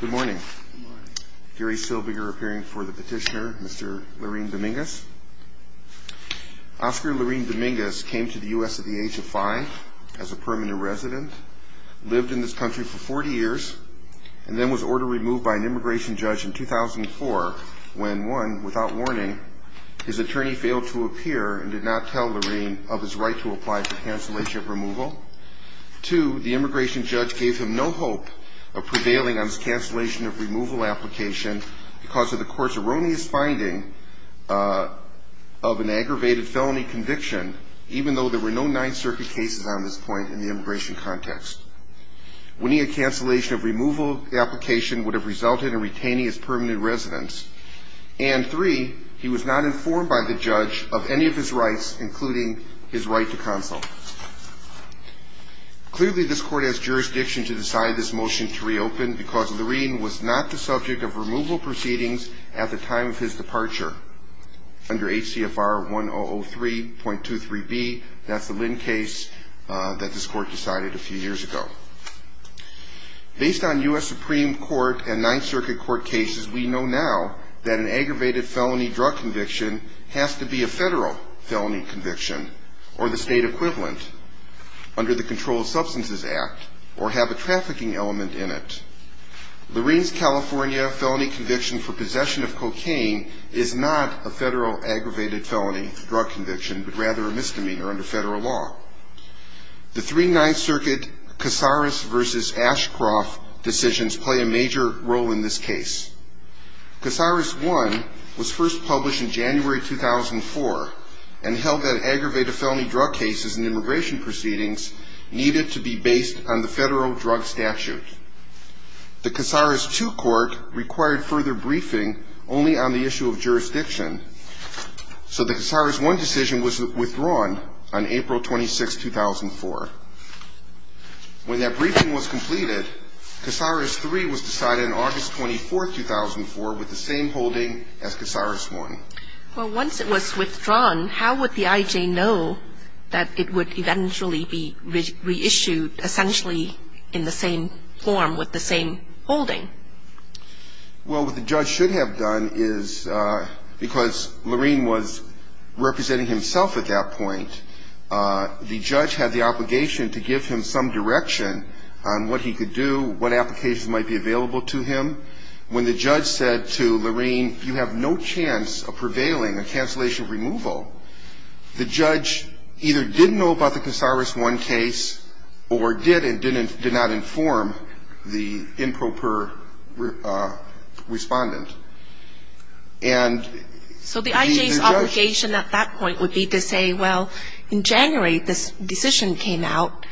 Good morning. Gary Silbiger appearing for the petitioner, Mr. Larin-Dominguez. Oscar Larin-Dominguez came to the U.S. at the age of five as a permanent resident, lived in this country for 40 years, and then was order removed by an immigration judge in 2004 when, one, without warning, his attorney failed to appear and did not tell Larin of his right to apply for cancellation of removal. Two, the immigration judge gave him no hope of prevailing on his cancellation of removal application because of the court's erroneous finding of an aggravated felony conviction, even though there were no Ninth Circuit cases on this point in the immigration context. Winning a cancellation of removal application would have resulted in retaining his permanent residence. And three, he was not informed by the judge of any of his rights, including his right to counsel. Clearly, this court has jurisdiction to decide this motion to reopen because Larin was not the subject of removal proceedings at the time of his departure. Under HCFR 1003.23b, that's the Lynn case that this court decided a few years ago. Based on U.S. Supreme Court and Ninth Circuit court cases, we know now that an aggravated felony drug conviction has to be a federal felony conviction or the state equivalent under the Controlled Substances Act or have a trafficking element in it. Larin's California felony conviction for possession of cocaine is not a federal aggravated felony drug conviction, but rather a misdemeanor under federal law. The three Ninth Circuit Casares v. Ashcroft decisions play a major role in this case. Casares I was first published in January 2004 and held that aggravated felony drug cases and immigration proceedings needed to be based on the federal drug statute. The Casares II court required further briefing only on the issue of jurisdiction, so the Casares I decision was withdrawn on April 26, 2004. When that briefing was completed, Casares III was decided on August 24, 2004 with the same holding as Casares I. Well, once it was withdrawn, how would the I.J. know that it would eventually be reissued essentially in the same form with the same holding? Well, what the judge should have done is, because Larin was representing himself at that point, the judge had the obligation to give him some direction on what he could do, what applications might be available to him. When the judge said to Larin, you have no chance of prevailing, a cancellation of removal, the judge either didn't know about the Casares I case or did and did not inform the improper respondent. So the I.J.'s obligation at that point would be to say, well, in January this decision came out.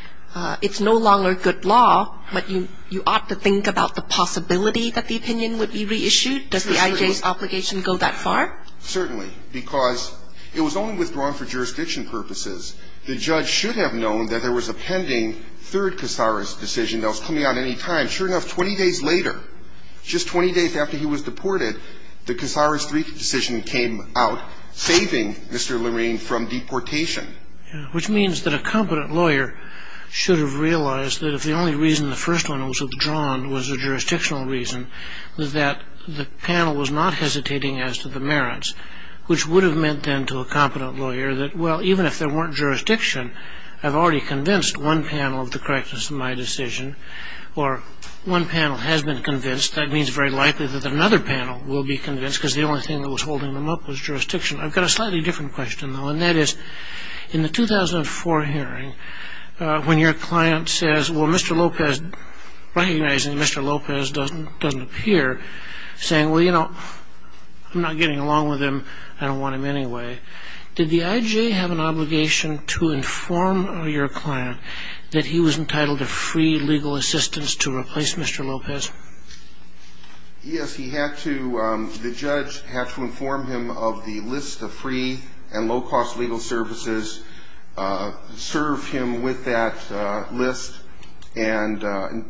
It's no longer good law, but you ought to think about the possibility that the opinion would be reissued. Does the I.J.'s obligation go that far? Certainly, because it was only withdrawn for jurisdiction purposes. The judge should have known that there was a pending third Casares decision that was coming out any time. Sure enough, 20 days later, just 20 days after he was deported, the Casares III decision came out, saving Mr. Larin from deportation. Which means that a competent lawyer should have realized that if the only reason the first one was withdrawn was a jurisdictional reason, that the panel was not hesitating as to the merits, which would have meant then to a competent lawyer that, well, even if there weren't jurisdiction, I've already convinced one panel of the correctness of my decision, or one panel has been convinced. That means very likely that another panel will be convinced because the only thing that was holding them up was jurisdiction. I've got a slightly different question, though, and that is, in the 2004 hearing, when your client says, well, Mr. Lopez, recognizing Mr. Lopez doesn't appear, saying, well, you know, I'm not getting along with him. I don't want him anyway. Did the IJA have an obligation to inform your client that he was entitled to free legal assistance to replace Mr. Lopez? Yes, he had to. The judge had to inform him of the list of free and low-cost legal services, serve him with that list, and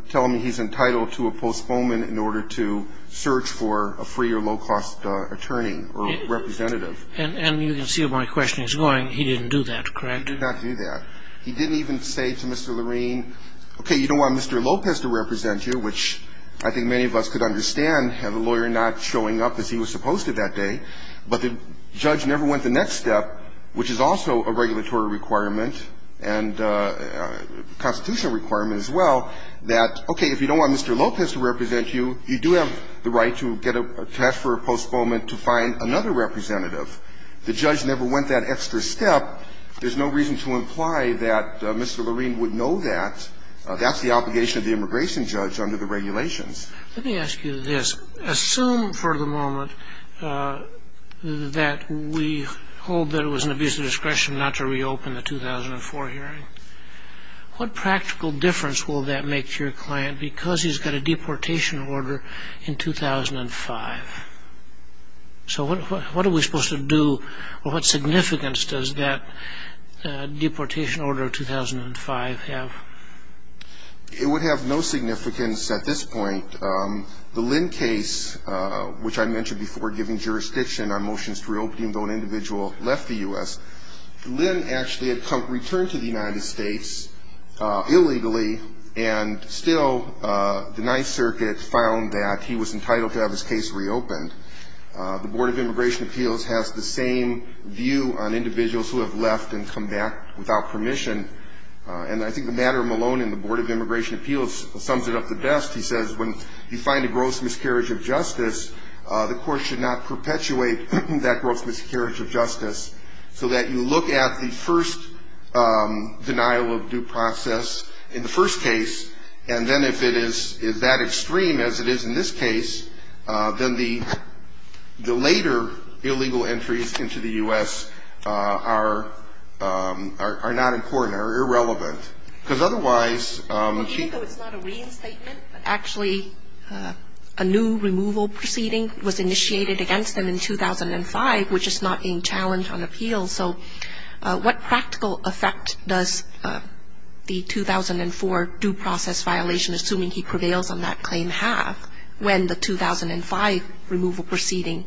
tell him he's entitled to a postponement in order to search for a free or low-cost attorney or representative. And you can see where my question is going. He didn't do that, correct? He did not do that. He didn't even say to Mr. Loreen, okay, you don't want Mr. Lopez to represent you, which I think many of us could understand had the lawyer not showing up as he was supposed to that day. But the judge never went the next step, which is also a regulatory requirement and a constitutional requirement as well, that, okay, if you don't want Mr. Lopez to represent you, you do have the right to get a cash for a postponement to find another representative. The judge never went that extra step. There's no reason to imply that Mr. Loreen would know that. That's the obligation of the immigration judge under the regulations. Let me ask you this. Assume for the moment that we hold that it was an abuse of discretion not to reopen the 2004 hearing. What practical difference will that make to your client because he's got a deportation order in 2005? So what are we supposed to do or what significance does that deportation order of 2005 have? It would have no significance at this point. The Lynn case, which I mentioned before, giving jurisdiction on motions to reopen even though an individual left the U.S., Lynn actually had returned to the United States illegally and still the Ninth Circuit found that he was entitled to have his case reopened. The Board of Immigration Appeals has the same view on individuals who have left and come back without permission. And I think the matter of Maloney and the Board of Immigration Appeals sums it up the best. He says when you find a gross miscarriage of justice, the court should not perpetuate that gross miscarriage of justice so that you look at the first denial of due process in the first case and then if it is that extreme as it is in this case, then the later illegal entries into the U.S. are not important or irrelevant. Even though it's not a reinstatement, actually a new removal proceeding was initiated against him in 2005, which is not being challenged on appeal. So what practical effect does the 2004 due process violation, assuming he prevails on that claim, have when the 2005 removal proceeding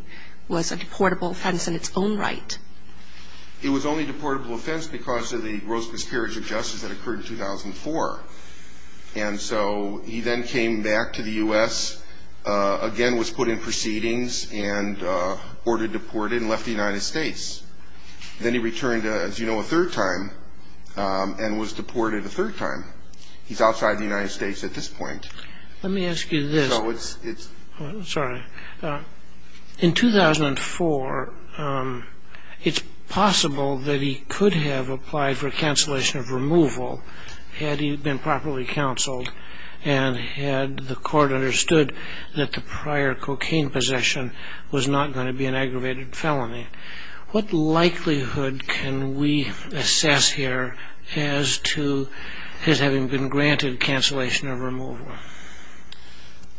was a deportable offense in its own right? It was only a deportable offense because of the gross miscarriage of justice that occurred in 2004. And so he then came back to the U.S., again was put in proceedings and ordered deported and left the United States. Then he returned, as you know, a third time and was deported a third time. He's outside the United States at this point. Let me ask you this. So it's... Sorry. In 2004, it's possible that he could have applied for cancellation of removal had he been properly counseled and had the court understood that the prior cocaine possession was not going to be an aggravated felony. What likelihood can we assess here as to his having been granted cancellation of removal?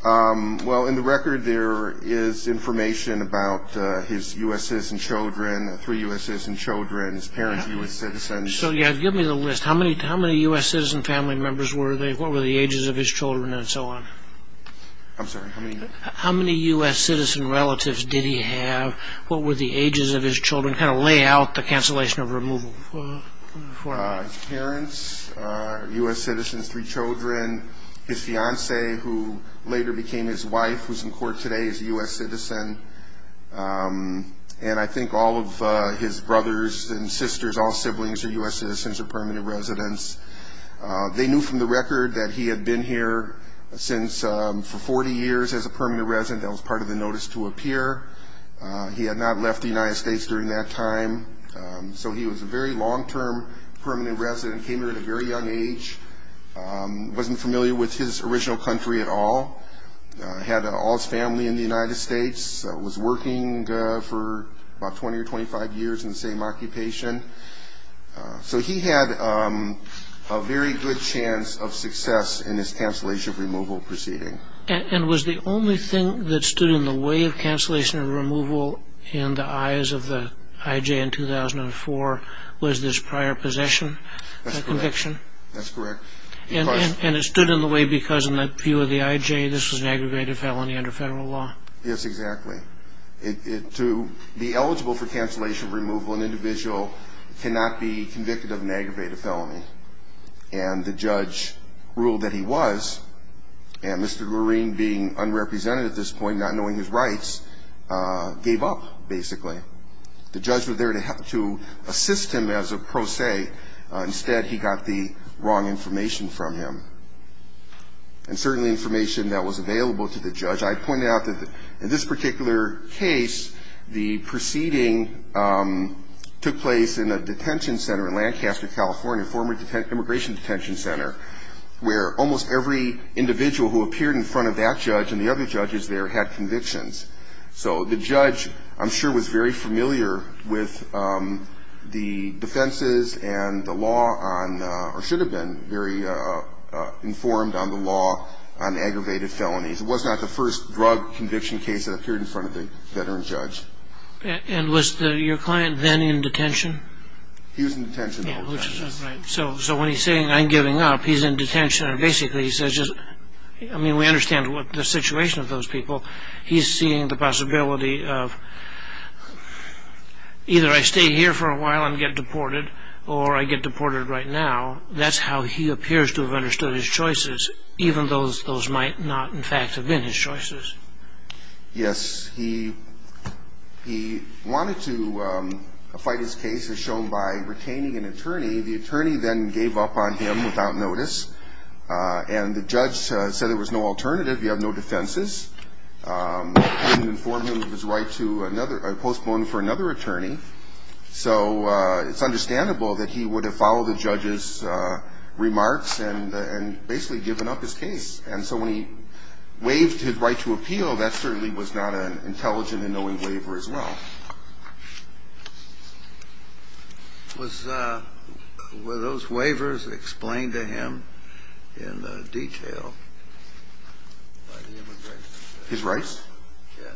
Well, in the record, there is information about his U.S. citizen children, three U.S. citizen children, his parents, U.S. citizens. So, yeah, give me the list. How many U.S. citizen family members were there? What were the ages of his children and so on? I'm sorry, how many? How many U.S. citizen relatives did he have? What were the ages of his children? Kind of lay out the cancellation of removal. His parents, U.S. citizens, three children. His fiancée, who later became his wife, who's in court today, is a U.S. citizen. And I think all of his brothers and sisters, all siblings, are U.S. citizens or permanent residents. They knew from the record that he had been here for 40 years as a permanent resident. That was part of the notice to appear. He had not left the United States during that time. So he was a very long-term permanent resident, came here at a very young age, wasn't familiar with his original country at all, had all his family in the United States, was working for about 20 or 25 years in the same occupation. So he had a very good chance of success in his cancellation of removal proceeding. And was the only thing that stood in the way of cancellation of removal in the eyes of the IJ in 2004 was this prior possession conviction? That's correct. And it stood in the way because in the view of the IJ, this was an aggravated felony under federal law? Yes, exactly. To be eligible for cancellation of removal, an individual cannot be convicted of an aggravated felony. And the judge ruled that he was. And Mr. Green, being unrepresented at this point, not knowing his rights, gave up, basically. The judge was there to assist him as a pro se. Instead, he got the wrong information from him. And certainly information that was available to the judge. I pointed out that in this particular case, the proceeding took place in a detention center in Lancaster, California, a former immigration detention center, where almost every individual who appeared in front of that judge and the other judges there had convictions. So the judge, I'm sure, was very familiar with the defenses and the law on or should have been very informed on the law on aggravated felonies. It was not the first drug conviction case that appeared in front of the veteran judge. And was your client then in detention? He was in detention. Right. So when he's saying, I'm giving up, he's in detention. I mean, we understand the situation of those people. He's seeing the possibility of either I stay here for a while and get deported or I get deported right now. That's how he appears to have understood his choices, even though those might not, in fact, have been his choices. Yes. He wanted to fight his case, as shown by retaining an attorney. The attorney then gave up on him without notice. And the judge said there was no alternative. You have no defenses. He didn't inform him of his right to another or postpone for another attorney. So it's understandable that he would have followed the judge's remarks and basically given up his case. And so when he waived his right to appeal, that certainly was not an intelligent and knowing waiver as well. Were those waivers explained to him in detail by the immigration judge? His rights? Yes.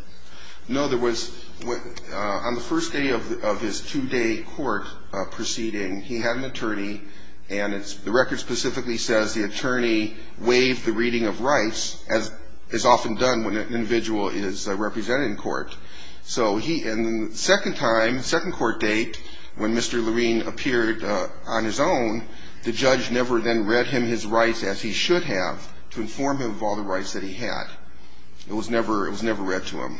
No, there was. On the first day of his two-day court proceeding, he had an attorney, and the record specifically says the attorney waived the reading of rights, as is often done when an individual is represented in court. So in the second time, second court date, when Mr. Lurine appeared on his own, the judge never then read him his rights as he should have to inform him of all the rights that he had. It was never read to him.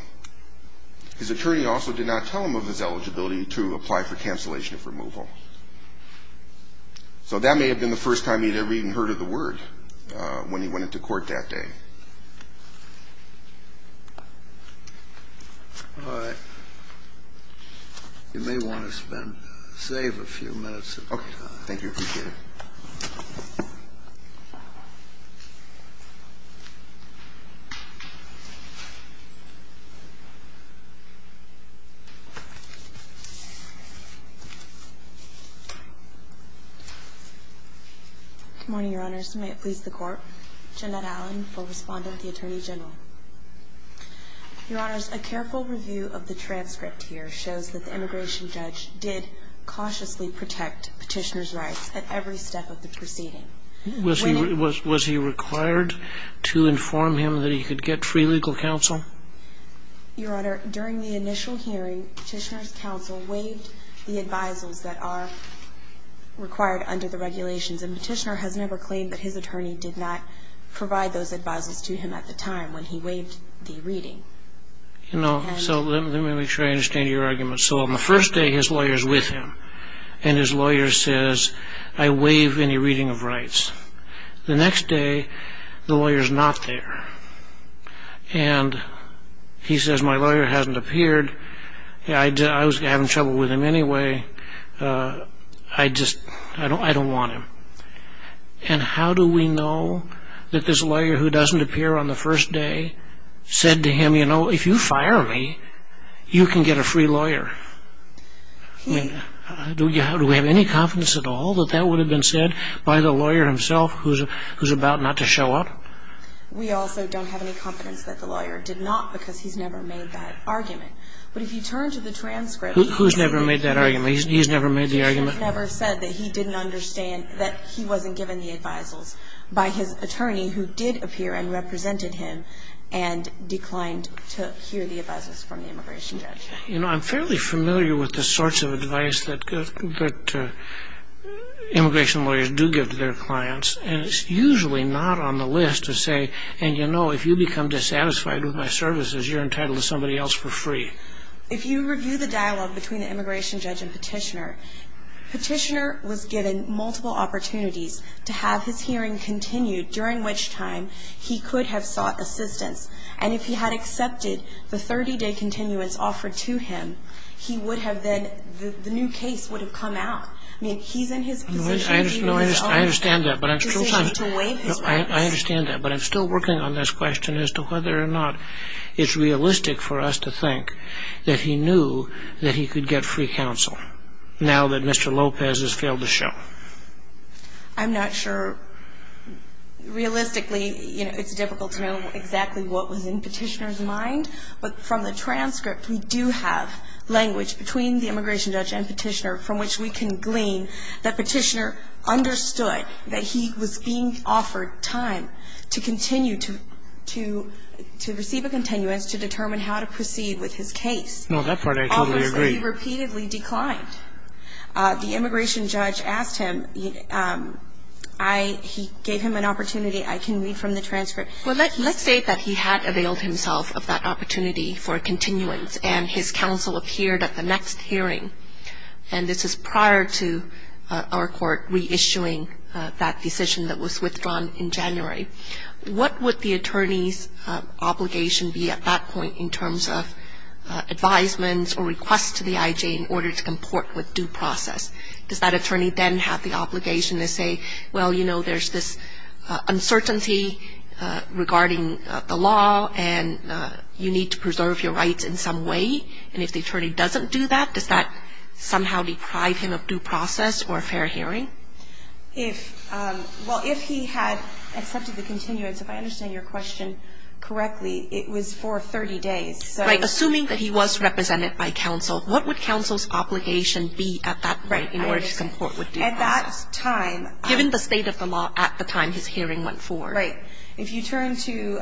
His attorney also did not tell him of his eligibility to apply for cancellation of removal. So that may have been the first time he had ever even heard of the word when he went into court that day. All right. You may want to spend or save a few minutes of your time. Okay. Thank you. Thank you. May it please the Court? Jeanette Allen, co-respondent with the Attorney General. Your Honors, a careful review of the transcript here shows that the immigration judge did cautiously protect Petitioner's rights at every step of the proceeding. Was he required to inform him that he could get free legal counsel? Your Honor, during the initial hearing, Petitioner's counsel waived the advisals that are required under the regulations, and Petitioner has never claimed that his attorney did not provide those advisals to him at the time when he waived the reading. You know, so let me make sure I understand your argument. So on the first day, his lawyer is with him, and his lawyer says, I waive any reading of rights. The next day, the lawyer is not there, and he says, My lawyer hasn't appeared. I was having trouble with him anyway. I just, I don't want him. And how do we know that this lawyer who doesn't appear on the first day said to him, You know, if you fire me, you can get a free lawyer? Do we have any confidence at all that that would have been said by the lawyer himself, who's about not to show up? We also don't have any confidence that the lawyer did not, because he's never made that argument. But if you turn to the transcript... Who's never made that argument? He's never made the argument? He's never said that he didn't understand that he wasn't given the advisals by his attorney, who did appear and represented him and declined to hear the advisers from the immigration judge. You know, I'm fairly familiar with the sorts of advice that immigration lawyers do give to their clients, and it's usually not on the list to say, And you know, if you become dissatisfied with my services, you're entitled to somebody else for free. If you review the dialogue between the immigration judge and petitioner, petitioner was given multiple opportunities to have his hearing continued, during which time he could have sought assistance. And if he had accepted the 30-day continuance offered to him, he would have then, the new case would have come out. I mean, he's in his position. I understand that, but I'm still working on this question as to whether or not it's realistic for us to think that he knew that he could get free counsel, now that Mr. Lopez has failed to show. I'm not sure. Realistically, you know, it's difficult to know exactly what was in petitioner's mind, but from the transcript, we do have language between the immigration judge and petitioner from which we can glean that petitioner understood that he was being offered time to continue to, to receive a continuance to determine how to proceed with his case. No, that part I totally agree. He repeatedly declined. The immigration judge asked him, I, he gave him an opportunity. I can read from the transcript. Well, let's say that he had availed himself of that opportunity for continuance, and his counsel appeared at the next hearing, and this is prior to our court reissuing that decision that was withdrawn in January. What would the attorney's obligation be at that point in terms of advisements or requests to the IJ in order to comport with due process? Does that attorney then have the obligation to say, well, you know, there's this uncertainty regarding the law, and you need to preserve your rights in some way, and if the attorney doesn't do that, does that somehow deprive him of due process or a fair hearing? If, well, if he had accepted the continuance, if I understand your question correctly, it was for 30 days. Right. Assuming that he was represented by counsel, what would counsel's obligation be at that point in order to comport with due process? At that time. Given the state of the law at the time his hearing went forward. Right. If you turn to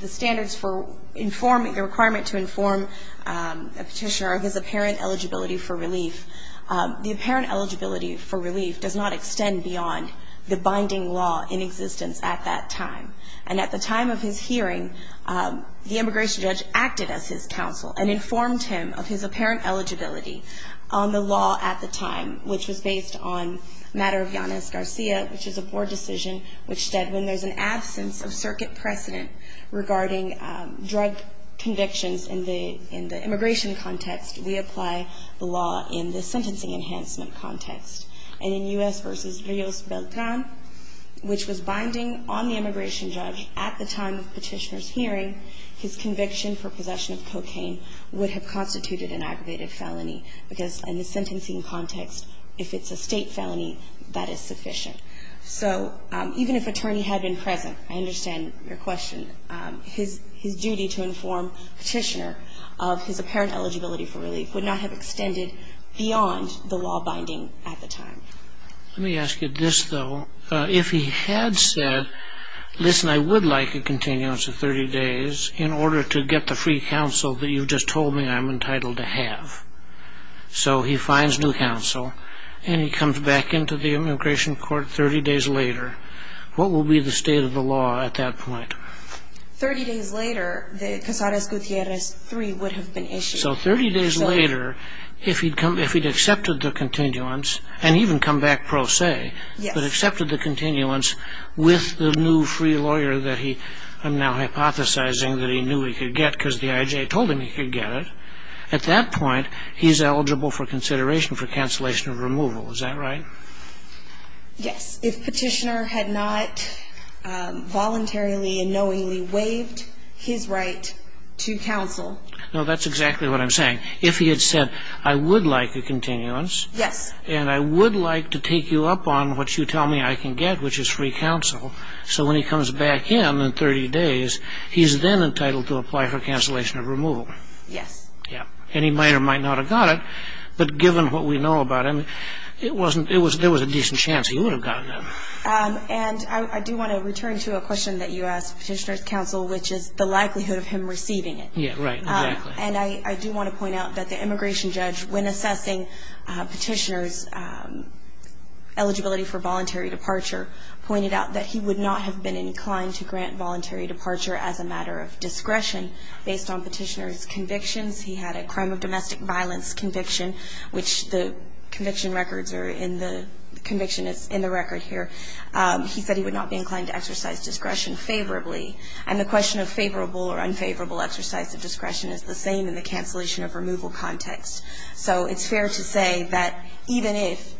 the standards for informing, the requirement to inform a petitioner of his apparent eligibility for relief, the apparent eligibility for relief does not extend beyond the binding law in existence at that time. And at the time of his hearing, the immigration judge acted as his counsel and informed him of his apparent eligibility on the law at the time, which was based on a matter of Yanis Garcia, which is a board decision, which said when there's an absence of circuit precedent regarding drug convictions in the immigration context, we apply the law in the sentencing enhancement context. And in U.S. v. Rios Beltran, which was binding on the immigration judge at the time of petitioner's hearing, his conviction for possession of cocaine would have constituted an aggravated felony, because in the sentencing context, if it's a state felony, that is sufficient. So even if attorney had been present, I understand your question, his duty to inform petitioner of his apparent eligibility for relief would not have extended beyond the law binding at the time. Let me ask you this, though. If he had said, listen, I would like a continuance of 30 days in order to get the free counsel that you just told me I'm entitled to have, so he finds new counsel and he comes back into the immigration court 30 days later, what will be the state of the law at that point? 30 days later, the Casares-Gutierrez III would have been issued. So 30 days later, if he'd accepted the continuance, and even come back pro se, but accepted the continuance with the new free lawyer that he, I'm now hypothesizing, that he knew he could get because the I.J. told him he could get it, at that point, he's eligible for consideration for cancellation of removal. Is that right? Yes. If petitioner had not voluntarily and knowingly waived his right to counsel. No, that's exactly what I'm saying. If he had said, I would like a continuance. Yes. And I would like to take you up on what you tell me I can get, which is free counsel. So when he comes back in in 30 days, he's then entitled to apply for cancellation of removal. Yes. Yes. And he might or might not have got it. But given what we know about him, there was a decent chance he would have gotten it. And I do want to return to a question that you asked, petitioner's counsel, which is the likelihood of him receiving it. Yes, right. Exactly. And I do want to point out that the immigration judge, when assessing petitioner's eligibility for voluntary departure, pointed out that he would not have been inclined to grant voluntary departure as a matter of discretion based on petitioner's convictions. He had a crime of domestic violence conviction, which the conviction records are in the conviction that's in the record here. He said he would not be inclined to exercise discretion favorably. And the question of favorable or unfavorable exercise of discretion is the same in the cancellation of removal context. So it's fair to say that even if,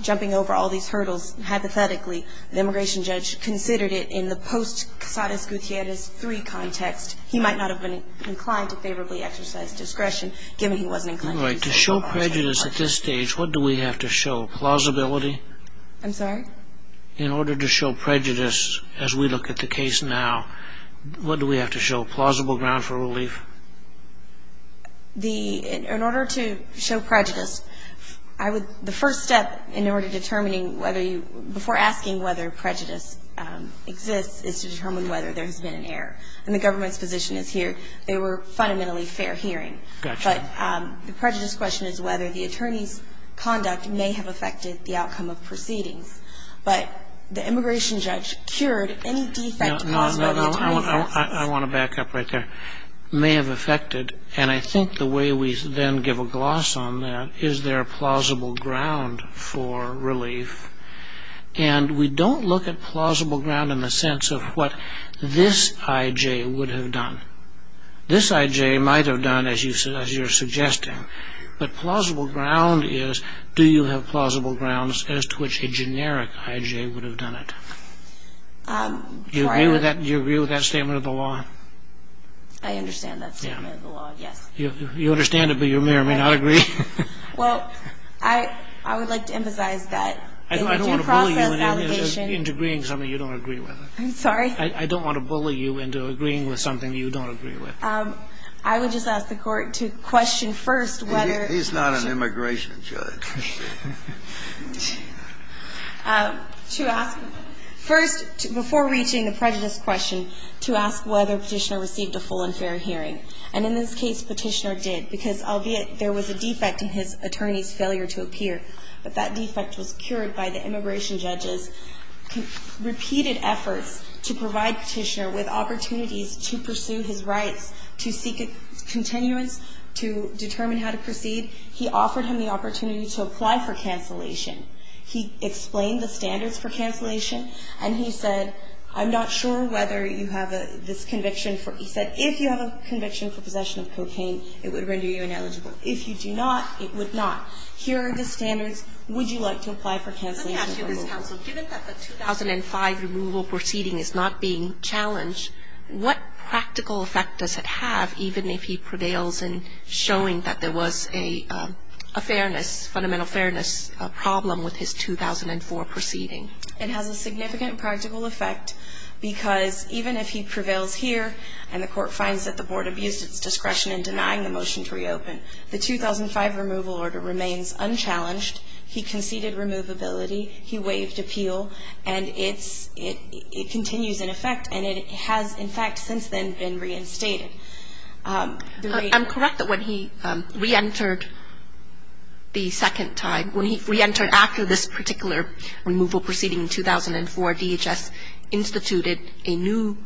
jumping over all these hurdles hypothetically, the immigration judge considered it in the post-Casares-Gutierrez III context, he might not have been inclined to favorably exercise discretion, given he wasn't inclined to do so. Right. To show prejudice at this stage, what do we have to show? Plausibility? I'm sorry? In order to show prejudice, as we look at the case now, what do we have to show, plausible ground for relief? The, in order to show prejudice, I would, the first step in order to determining whether you, before asking whether prejudice exists, is to determine whether there has been an error. And the government's position is here, they were fundamentally fair hearing. Gotcha. But the prejudice question is whether the attorney's conduct may have affected the outcome of proceedings. But the immigration judge cured any defect caused by the attorney's actions. I want to back up right there. May have affected, and I think the way we then give a gloss on that, is there a plausible ground for relief? And we don't look at plausible ground in the sense of what this I.J. would have done. This I.J. might have done, as you're suggesting. But plausible ground is, do you have plausible grounds as to which a generic I.J. would have done it? Do you agree with that statement of the law? I understand that statement of the law, yes. You understand it, but your mayor may not agree. Well, I would like to emphasize that it's a due process allegation. I don't want to bully you into agreeing with something you don't agree with. I'm sorry? I don't want to bully you into agreeing with something you don't agree with. I would just ask the Court to question first whether... He's not an immigration judge. To ask, first, before reaching the prejudice question, to ask whether Petitioner received a full and fair hearing. And in this case, Petitioner did, because albeit there was a defect in his attorney's failure to appear, but that defect was cured by the immigration judge's repeated efforts to provide Petitioner with opportunities to pursue his rights, to seek continuance, to determine how to proceed. He offered him the opportunity to apply for cancellation. He explained the standards for cancellation, and he said, I'm not sure whether you have this conviction... If you have a conviction for possession of cocaine, it would render you ineligible. If you do not, it would not. Here are the standards. Would you like to apply for cancellation? Let me ask you this, counsel. Given that the 2005 removal proceeding is not being challenged, what practical effect does it have, even if he prevails in showing that there was a fairness, fundamental fairness problem with his 2004 proceeding? It has a significant practical effect, because even if he prevails here and the Court finds that the Board abused its discretion in denying the motion to reopen, the 2005 removal order remains unchallenged. He conceded removability. He waived appeal. And it's – it continues in effect, and it has, in fact, since then been reinstated. I'm correct that when he reentered the second time, when he reentered after this particular removal proceeding in 2004, DHS instituted a new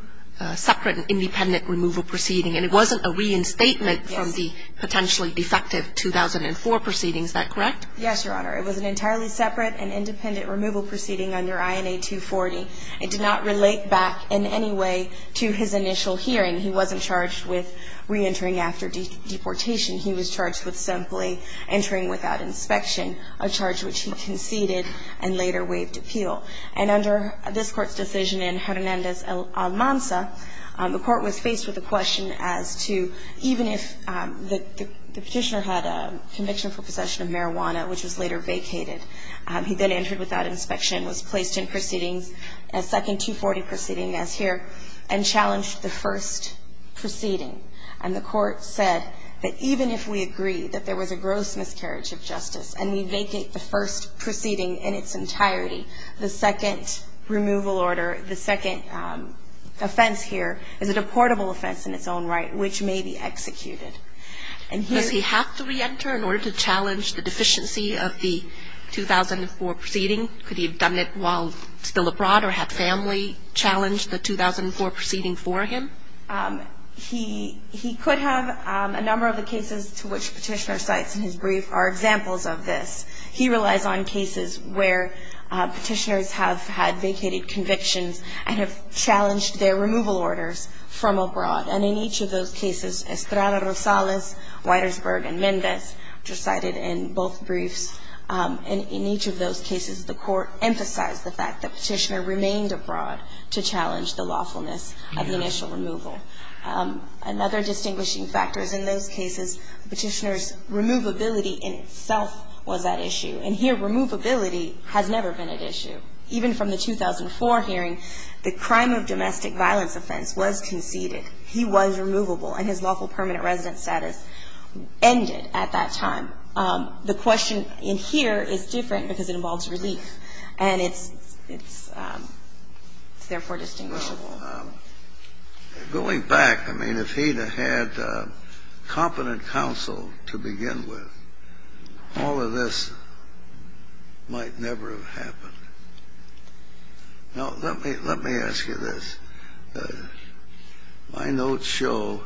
separate and independent removal proceeding, and it wasn't a reinstatement from the potentially defective 2004 proceedings. Is that correct? Yes, Your Honor. It was an entirely separate and independent removal proceeding under INA 240. It did not relate back in any way to his initial hearing. He wasn't charged with reentering after deportation. He was charged with simply entering without inspection, a charge which he conceded and later waived appeal. And under this Court's decision in Hernandez-Almanza, the Court was faced with a question as to even if the Petitioner had a conviction for possession of marijuana, which was later vacated, he then entered without inspection, was placed in proceedings, a second 240 proceeding as here, and challenged the first proceeding. And the Court said that even if we agree that there was a gross miscarriage of justice and we vacate the first proceeding in its entirety, the second removal order, the second offense here is a deportable offense in its own right, which may be executed. And here he has to reenter in order to challenge the deficiency of the 2004 proceeding. Could he have done it while still abroad or have family challenge the 2004 proceeding for him? He could have. A number of the cases to which Petitioner cites in his brief are examples of this. He relies on cases where Petitioners have had vacated convictions and have challenged their removal orders from abroad. And in each of those cases, Estrada-Rosales, Widersberg, and Mendez, which are cited in both briefs, in each of those cases, the Court emphasized the fact that Petitioner remained abroad to challenge the lawfulness of the initial removal. Another distinguishing factor is in those cases, Petitioner's removability in itself was at issue. And here, removability has never been at issue. Even from the 2004 hearing, the crime of domestic violence offense was conceded. He was removable, and his lawful permanent residence status ended at that time. The question in here is different because it involves relief, and it's therefore distinguishable. Well, going back, I mean, if he had had competent counsel to begin with, all of this might never have happened. Now, let me ask you this. My notes show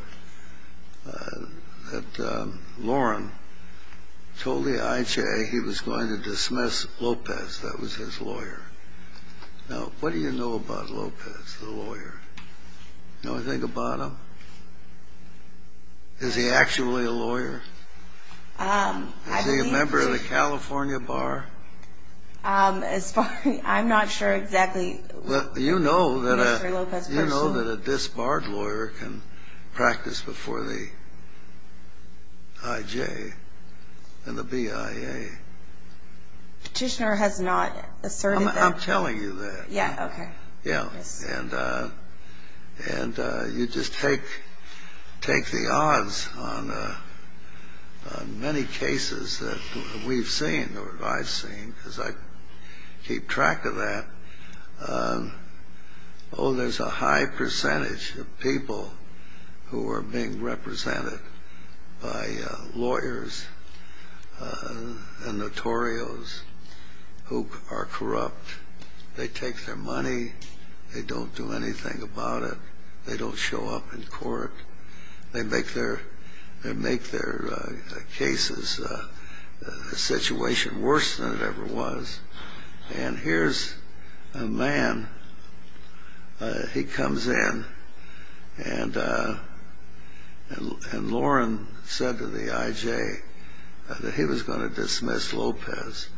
that Loren told the IJ he was going to dismiss Lopez. That was his lawyer. Now, what do you know about Lopez, the lawyer? Do you know anything about him? Is he actually a lawyer? Is he a member of the California Bar? As far as I'm not sure exactly, Mr. Lopez personally. You know that a disbarred lawyer can practice before the IJ and the BIA. Petitioner has not asserted that. I'm telling you that. Yeah, okay. Yeah, and you just take the odds on many cases that we've seen or that I've seen because I keep track of that. Oh, there's a high percentage of people who are being represented by lawyers and notorios who are corrupt. They take their money. They don't do anything about it. They don't show up in court. They make their cases, the situation, worse than it ever was. And here's a man. He comes in, and Loren said to the IJ that he was going to dismiss Lopez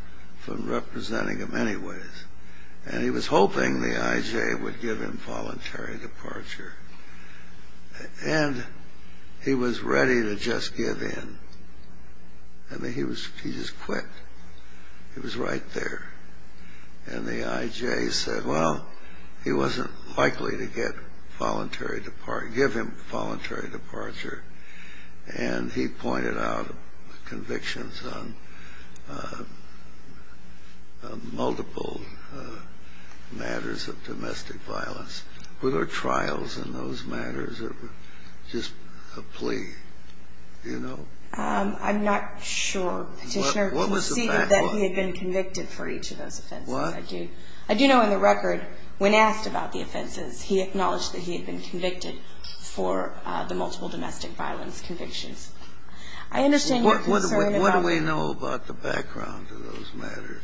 from representing him anyways. And he was hoping the IJ would give him voluntary departure. And he was ready to just give in. He just quit. He was right there. And the IJ said, well, he wasn't likely to give him voluntary departure. And he pointed out convictions on multiple matters of domestic violence. Were there trials in those matters or just a plea? I'm not sure, Petitioner. What was the background? He conceded that he had been convicted for each of those offenses. What? I do know in the record when asked about the offenses, he acknowledged that he had been convicted for the multiple domestic violence convictions. I understand you're concerned about that. What do we know about the background of those matters?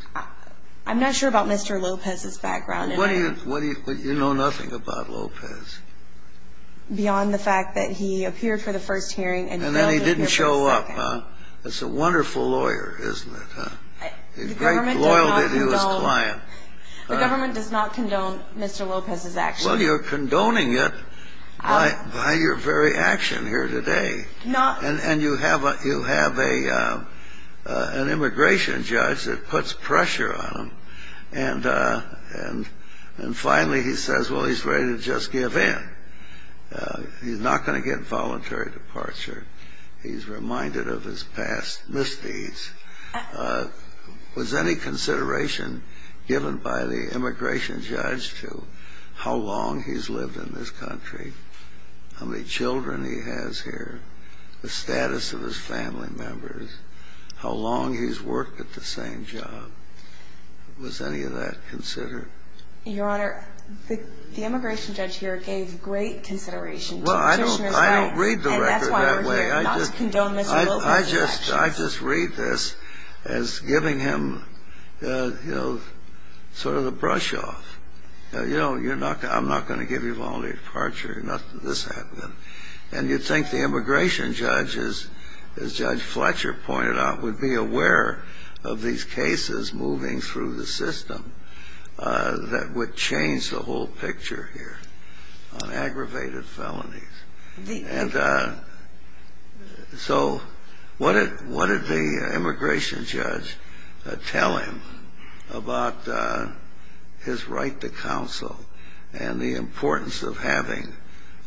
I'm not sure about Mr. Lopez's background. You know nothing about Lopez. Beyond the fact that he appeared for the first hearing and then he didn't show up. He's a wonderful lawyer, isn't he? He's very loyal to his client. The government does not condone Mr. Lopez's actions. Well, you're condoning it by your very action here today. And you have an immigration judge that puts pressure on him. And finally he says, well, he's ready to just give in. He's not going to get voluntary departure. He's reminded of his past misdeeds. Was any consideration given by the immigration judge to how long he's lived in this country, how many children he has here, the status of his family members, how long he's worked at the same job? Was any of that considered? Your Honor, the immigration judge here gave great consideration to petitioner's rights. Well, I don't read the record that way. And that's why we're here, not to condone Mr. Lopez's actions. I just read this as giving him sort of the brush off. You know, I'm not going to give you voluntary departure. This happened. And you'd think the immigration judge, as Judge Fletcher pointed out, would be aware of these cases moving through the system that would change the whole picture here on aggravated felonies. And so what did the immigration judge tell him about his right to counsel and the importance of having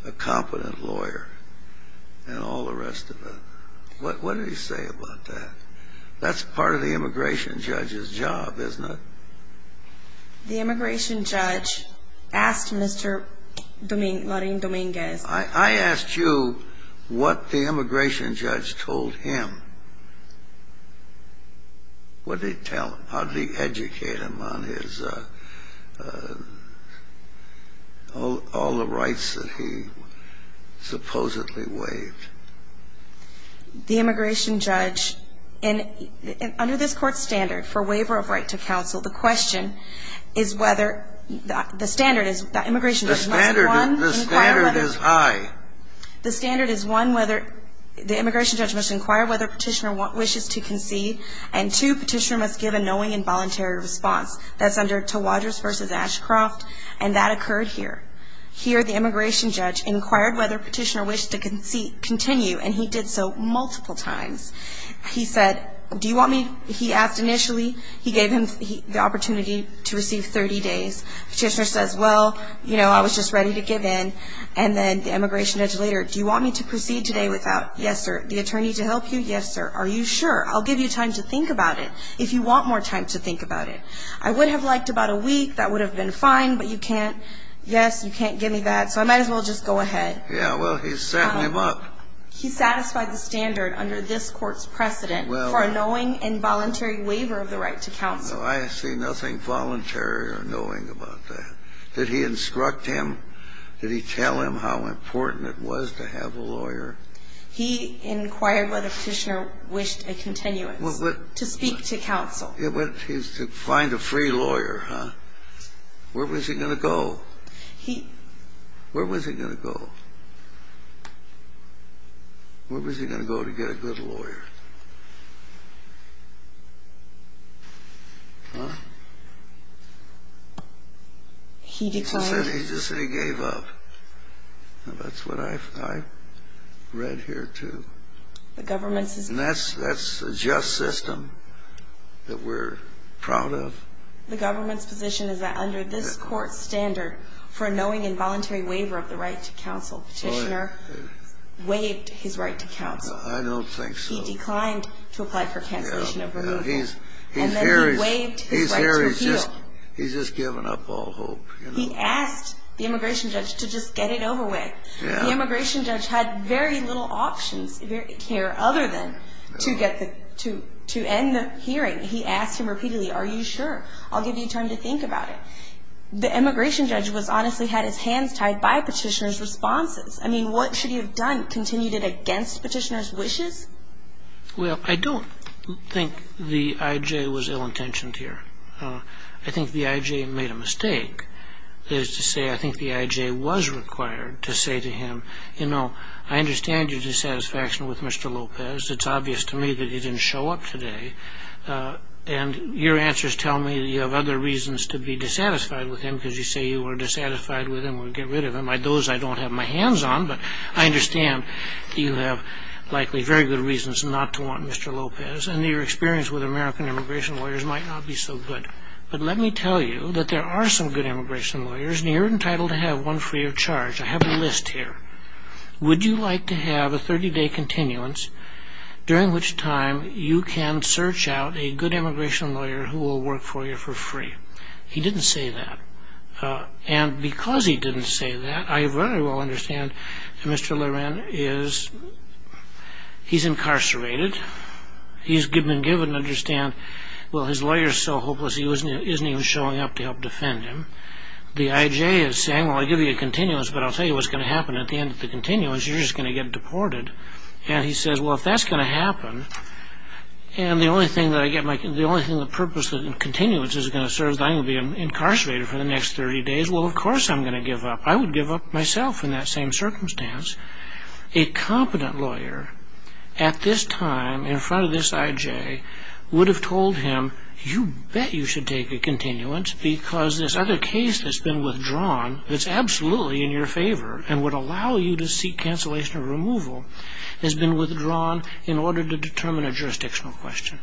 a competent lawyer and all the rest of it? What did he say about that? That's part of the immigration judge's job, isn't it? The immigration judge asked Mr. Marín Domínguez. I asked you what the immigration judge told him. What did he tell him? How did he educate him on his all the rights that he supposedly waived? The immigration judge, under this Court's standard for waiver of right to counsel, the question is whether the standard is that immigration judge must inquire whether. The standard is high. The standard is one, whether the immigration judge must inquire whether petitioner wishes to concede, and two, petitioner must give a knowing and voluntary response. That's under Tawadrous v. Ashcroft, and that occurred here. Here, the immigration judge inquired whether petitioner wished to continue, and he did so multiple times. He said, do you want me? He asked initially. He gave him the opportunity to receive 30 days. Petitioner says, well, you know, I was just ready to give in. And then the immigration judge later, do you want me to proceed today without? Yes, sir. The attorney to help you? Yes, sir. Are you sure? I'll give you time to think about it if you want more time to think about it. I would have liked about a week. That would have been fine, but you can't. Yes, you can't give me that, so I might as well just go ahead. Yeah, well, he's setting him up. He satisfied the standard under this Court's precedent for a knowing and voluntary waiver of the right to counsel. No, I see nothing voluntary or knowing about that. Did he instruct him? Did he tell him how important it was to have a lawyer? He inquired whether Petitioner wished a continuance to speak to counsel. He's to find a free lawyer, huh? Where was he going to go? He. Where was he going to go? Where was he going to go to get a good lawyer? Huh? He declined. He just said he gave up. That's what I read here, too. The government's position. And that's a just system that we're proud of. The government's position is that under this Court's standard for a knowing and voluntary waiver of the right to counsel, Petitioner waived his right to counsel. I don't think so. He declined to apply for cancellation of removal. Yeah, yeah. And then he waived his right to appeal. He's here. He's just given up all hope. He asked the immigration judge to just get it over with. Yeah. The immigration judge had very little options here other than to end the hearing. He asked him repeatedly, are you sure? I'll give you time to think about it. The immigration judge honestly had his hands tied by Petitioner's responses. I mean, what should he have done? Continued it against Petitioner's wishes? Well, I don't think the I.J. was ill-intentioned here. I think the I.J. made a mistake. That is to say, I think the I.J. was required to say to him, you know, I understand your dissatisfaction with Mr. Lopez. It's obvious to me that he didn't show up today. And your answers tell me that you have other reasons to be dissatisfied with him because you say you were dissatisfied with him or get rid of him. Those I don't have my hands on. But I understand you have likely very good reasons not to want Mr. Lopez. And your experience with American immigration lawyers might not be so good. But let me tell you that there are some good immigration lawyers, and you're entitled to have one free of charge. I have a list here. Would you like to have a 30-day continuance during which time you can search out a good immigration lawyer who will work for you for free? He didn't say that. And because he didn't say that, I very well understand that Mr. Loren is incarcerated. He's been given to understand, well, his lawyer is so hopeless he isn't even showing up to help defend him. The I.J. is saying, well, I'll give you a continuance, but I'll tell you what's going to happen at the end of the continuance. You're just going to get deported. And he says, well, if that's going to happen, and the only thing that I get my – if I'm incarcerated for the next 30 days, well, of course I'm going to give up. I would give up myself in that same circumstance. A competent lawyer at this time in front of this I.J. would have told him, you bet you should take a continuance because this other case that's been withdrawn that's absolutely in your favor and would allow you to seek cancellation or removal has been withdrawn in order to determine a jurisdictional question.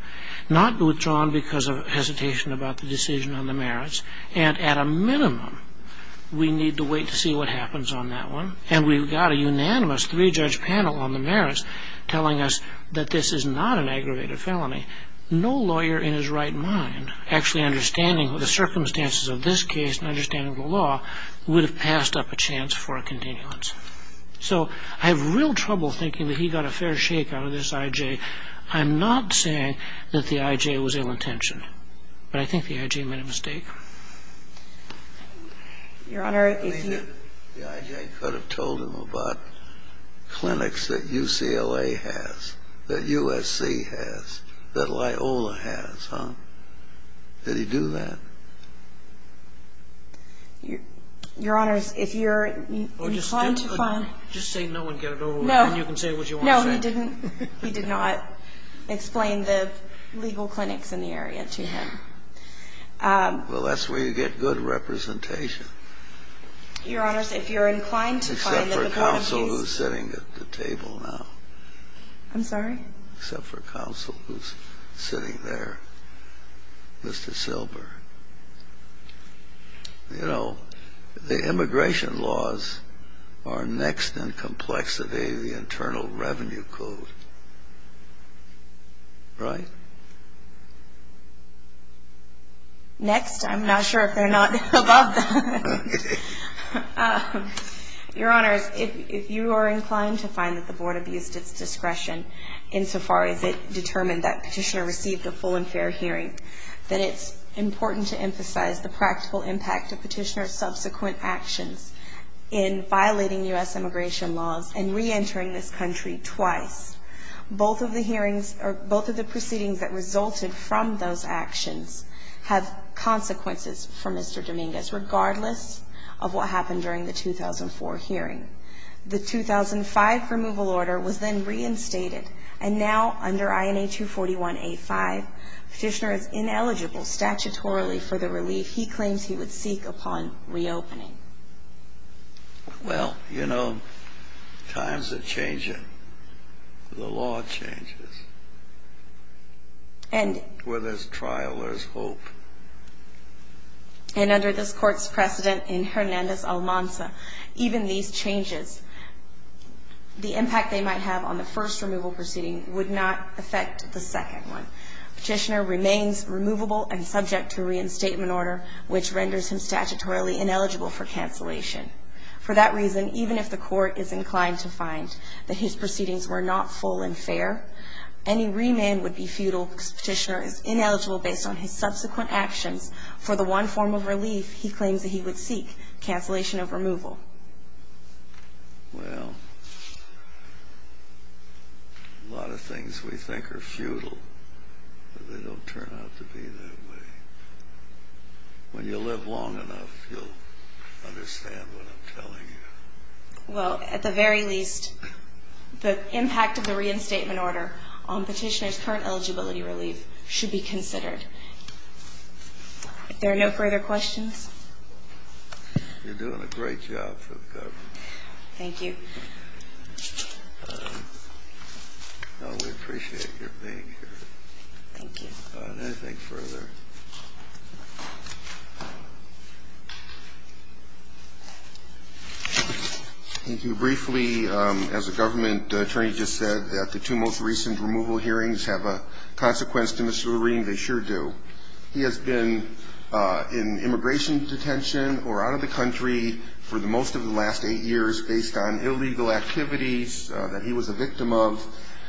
Not withdrawn because of hesitation about the decision on the merits. And at a minimum, we need to wait to see what happens on that one. And we've got a unanimous three-judge panel on the merits telling us that this is not an aggravated felony. No lawyer in his right mind actually understanding the circumstances of this case and understanding the law would have passed up a chance for a continuance. So I have real trouble thinking that he got a fair shake out of this I.J. I'm not saying that the I.J. was ill-intentioned, but I think the I.J. made a mistake. Your Honor, if you – I mean, the I.J. could have told him about clinics that UCLA has, that USC has, that Loyola has, huh? Did he do that? Your Honor, if you're inclined to find – Well, just say no and get it over with. No. And you can say what you want to say. No, he didn't. He did not explain the legal clinics in the area to him. Well, that's where you get good representation. Your Honor, if you're inclined to find – Except for a counsel who's sitting at the table now. I'm sorry? Except for a counsel who's sitting there, Mr. Silber. You know, the immigration laws are next in complexity to the Internal Revenue Code, right? Next? I'm not sure if they're not above that. Your Honors, if you are inclined to find that the Board abused its discretion insofar as it determined that Petitioner received a full and fair hearing, that it's important to emphasize the practical impact of Petitioner's subsequent actions in violating U.S. immigration laws and reentering this country twice. Both of the hearings or both of the proceedings that resulted from those actions have consequences for Mr. Dominguez, regardless of what happened during the 2004 hearing. The 2005 removal order was then reinstated, and now under INA 241A5, Petitioner is ineligible statutorily for the relief he claims he would seek upon reopening. Well, you know, times are changing. The law changes. Whether it's trial or it's hope. And under this Court's precedent in Hernandez-Almanza, even these changes, the impact they might have on the first removal proceeding would not affect the second one. Petitioner remains removable and subject to reinstatement order, which renders him statutorily ineligible for cancellation. For that reason, even if the Court is inclined to find that his proceedings were not full and fair, any remand would be futile because Petitioner is ineligible based on his subsequent actions for the one form of relief he claims that he would seek, cancellation of removal. Well, a lot of things we think are futile, but they don't turn out to be that way. When you live long enough, you'll understand what I'm telling you. Well, at the very least, the impact of the reinstatement order on Petitioner's current eligibility relief should be considered. If there are no further questions. You're doing a great job for the government. Thank you. We appreciate your being here. Thank you. Nothing further. Thank you. Briefly, as the government attorney just said, the two most recent removal hearings have a consequence to Mr. Lurine. They sure do. He has been in immigration detention or out of the country for most of the last eight years based on illegal activities that he was a victim of.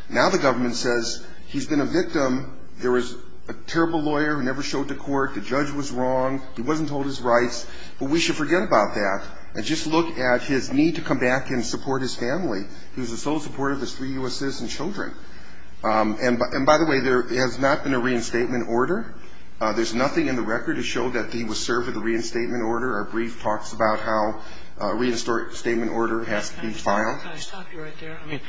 Now the government says he's been a victim. There was a terrible lawyer who never showed to court. The judge was wrong. He wasn't told his rights. But we should forget about that and just look at his need to come back and support his family. He was the sole supporter of his three U.S. citizen children. And by the way, there has not been a reinstatement order. There's nothing in the record to show that he was served with a reinstatement order. Our brief talks about how a reinstatement order has to be filed. Can I stop you right there? I mean,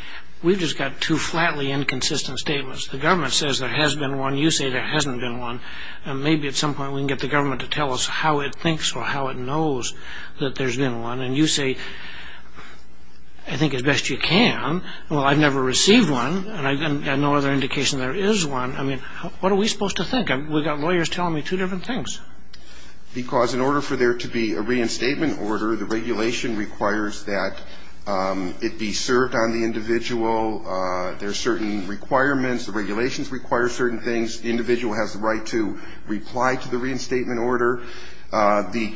we've just got two flatly inconsistent statements. The government says there has been one. You say there hasn't been one. And maybe at some point we can get the government to tell us how it thinks or how it knows that there's been one. And you say, I think as best you can. Well, I've never received one, and I've got no other indication there is one. I mean, what are we supposed to think? We've got lawyers telling me two different things. Because in order for there to be a reinstatement order, the regulation requires that it be served on the individual. There are certain requirements. The regulations require certain things. The individual has the right to reply to the reinstatement order. The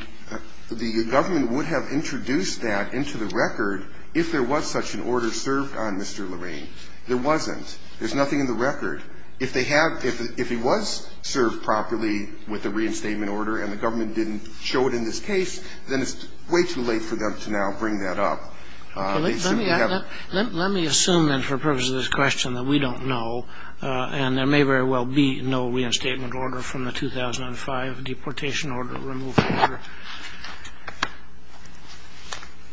government would have introduced that into the record if there was such an order served on Mr. Lorraine. There wasn't. There's nothing in the record. If they have – if he was served properly with a reinstatement order and the government didn't show it in this case, then it's way too late for them to now bring that up. Let me assume then for the purpose of this question that we don't know, and there may very well be no reinstatement order from the 2005 deportation order, removal order.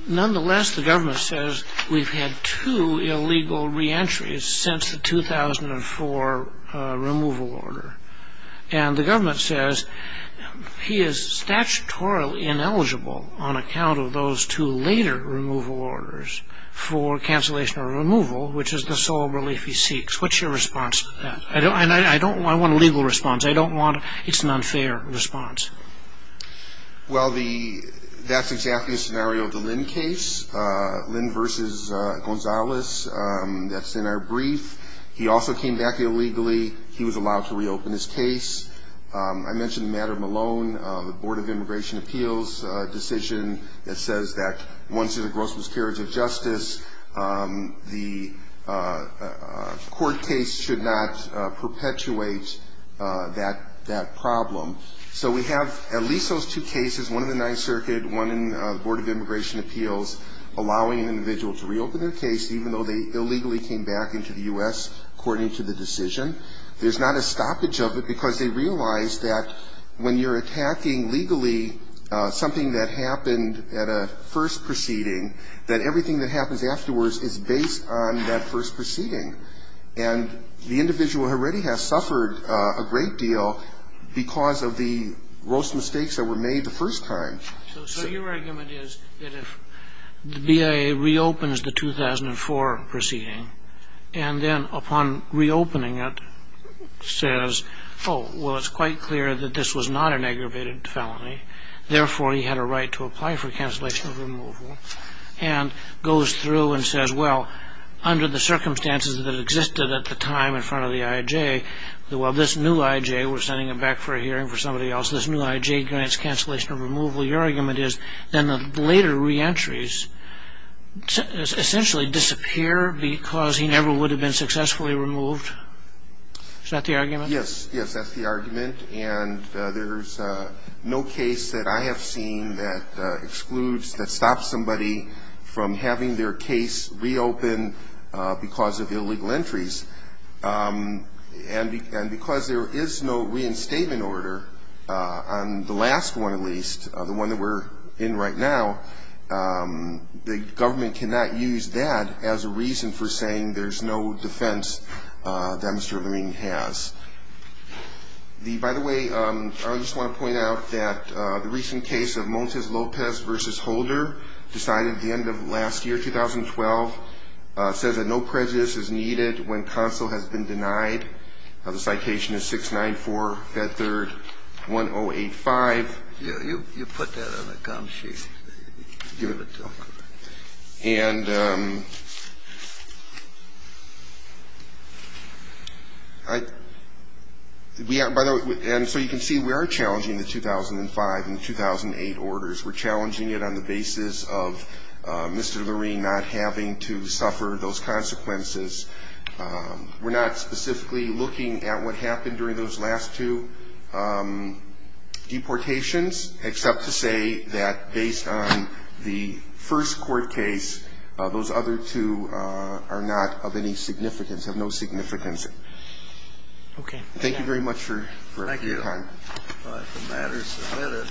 Nonetheless, the government says we've had two illegal reentries since the 2004 removal order. And the government says he is statutorily ineligible on account of those two later removal orders for cancellation or removal, which is the sole relief he seeks. What's your response to that? And I don't want a legal response. I don't want – it's an unfair response. Well, that's exactly the scenario of the Lynn case, Lynn v. Gonzales. That's in our brief. He also came back illegally. He was allowed to reopen his case. I mentioned the matter of Malone, the Board of Immigration Appeals decision that says that once there's a gross miscarriage of justice, the court case should not perpetuate that problem. So we have at least those two cases, one in the Ninth Circuit, one in the Board of Immigration Appeals, allowing an individual to reopen their case, even though they illegally came back into the U.S. according to the decision. There's not a stoppage of it because they realized that when you're attacking legally something that happened at a first proceeding, that everything that happens afterwards is based on that first proceeding. And the individual already has suffered a great deal because of the gross mistakes that were made the first time. So your argument is that if the BIA reopens the 2004 proceeding and then upon reopening it says, oh, well, it's quite clear that this was not an aggravated felony, therefore he had a right to apply for cancellation of removal, and goes through and says, well, under the circumstances that existed at the time in front of the I.I.J., well, this new I.I.J. we're sending him back for a hearing for somebody else, this new I.I.J. grants cancellation of removal. Your argument is then the later reentries essentially disappear because he never would have been successfully removed. Is that the argument? Yes. Yes, that's the argument. And there's no case that I have seen that excludes, that stops somebody from having their case reopened because of illegal entries. And because there is no reinstatement order on the last one at least, the one that we're in right now, the government cannot use that as a reason for saying there's no defense that Mr. Levine has. By the way, I just want to point out that the recent case of Montes Lopez v. Holder decided at the end of last year, 2012, says that no prejudice is needed when counsel has been denied. The citation is 694, Fed Third, 1085. You put that on the cum sheet. Give it to him. And by the way, and so you can see we are challenging the 2005 and 2008 orders. We're challenging it on the basis of Mr. Levine not having to suffer those consequences. We're not specifically looking at what happened during those last two deportations except to say that based on the first court case, those other two are not of any significance, have no significance. Okay. Thank you very much for your time. Thank you. The matter is submitted.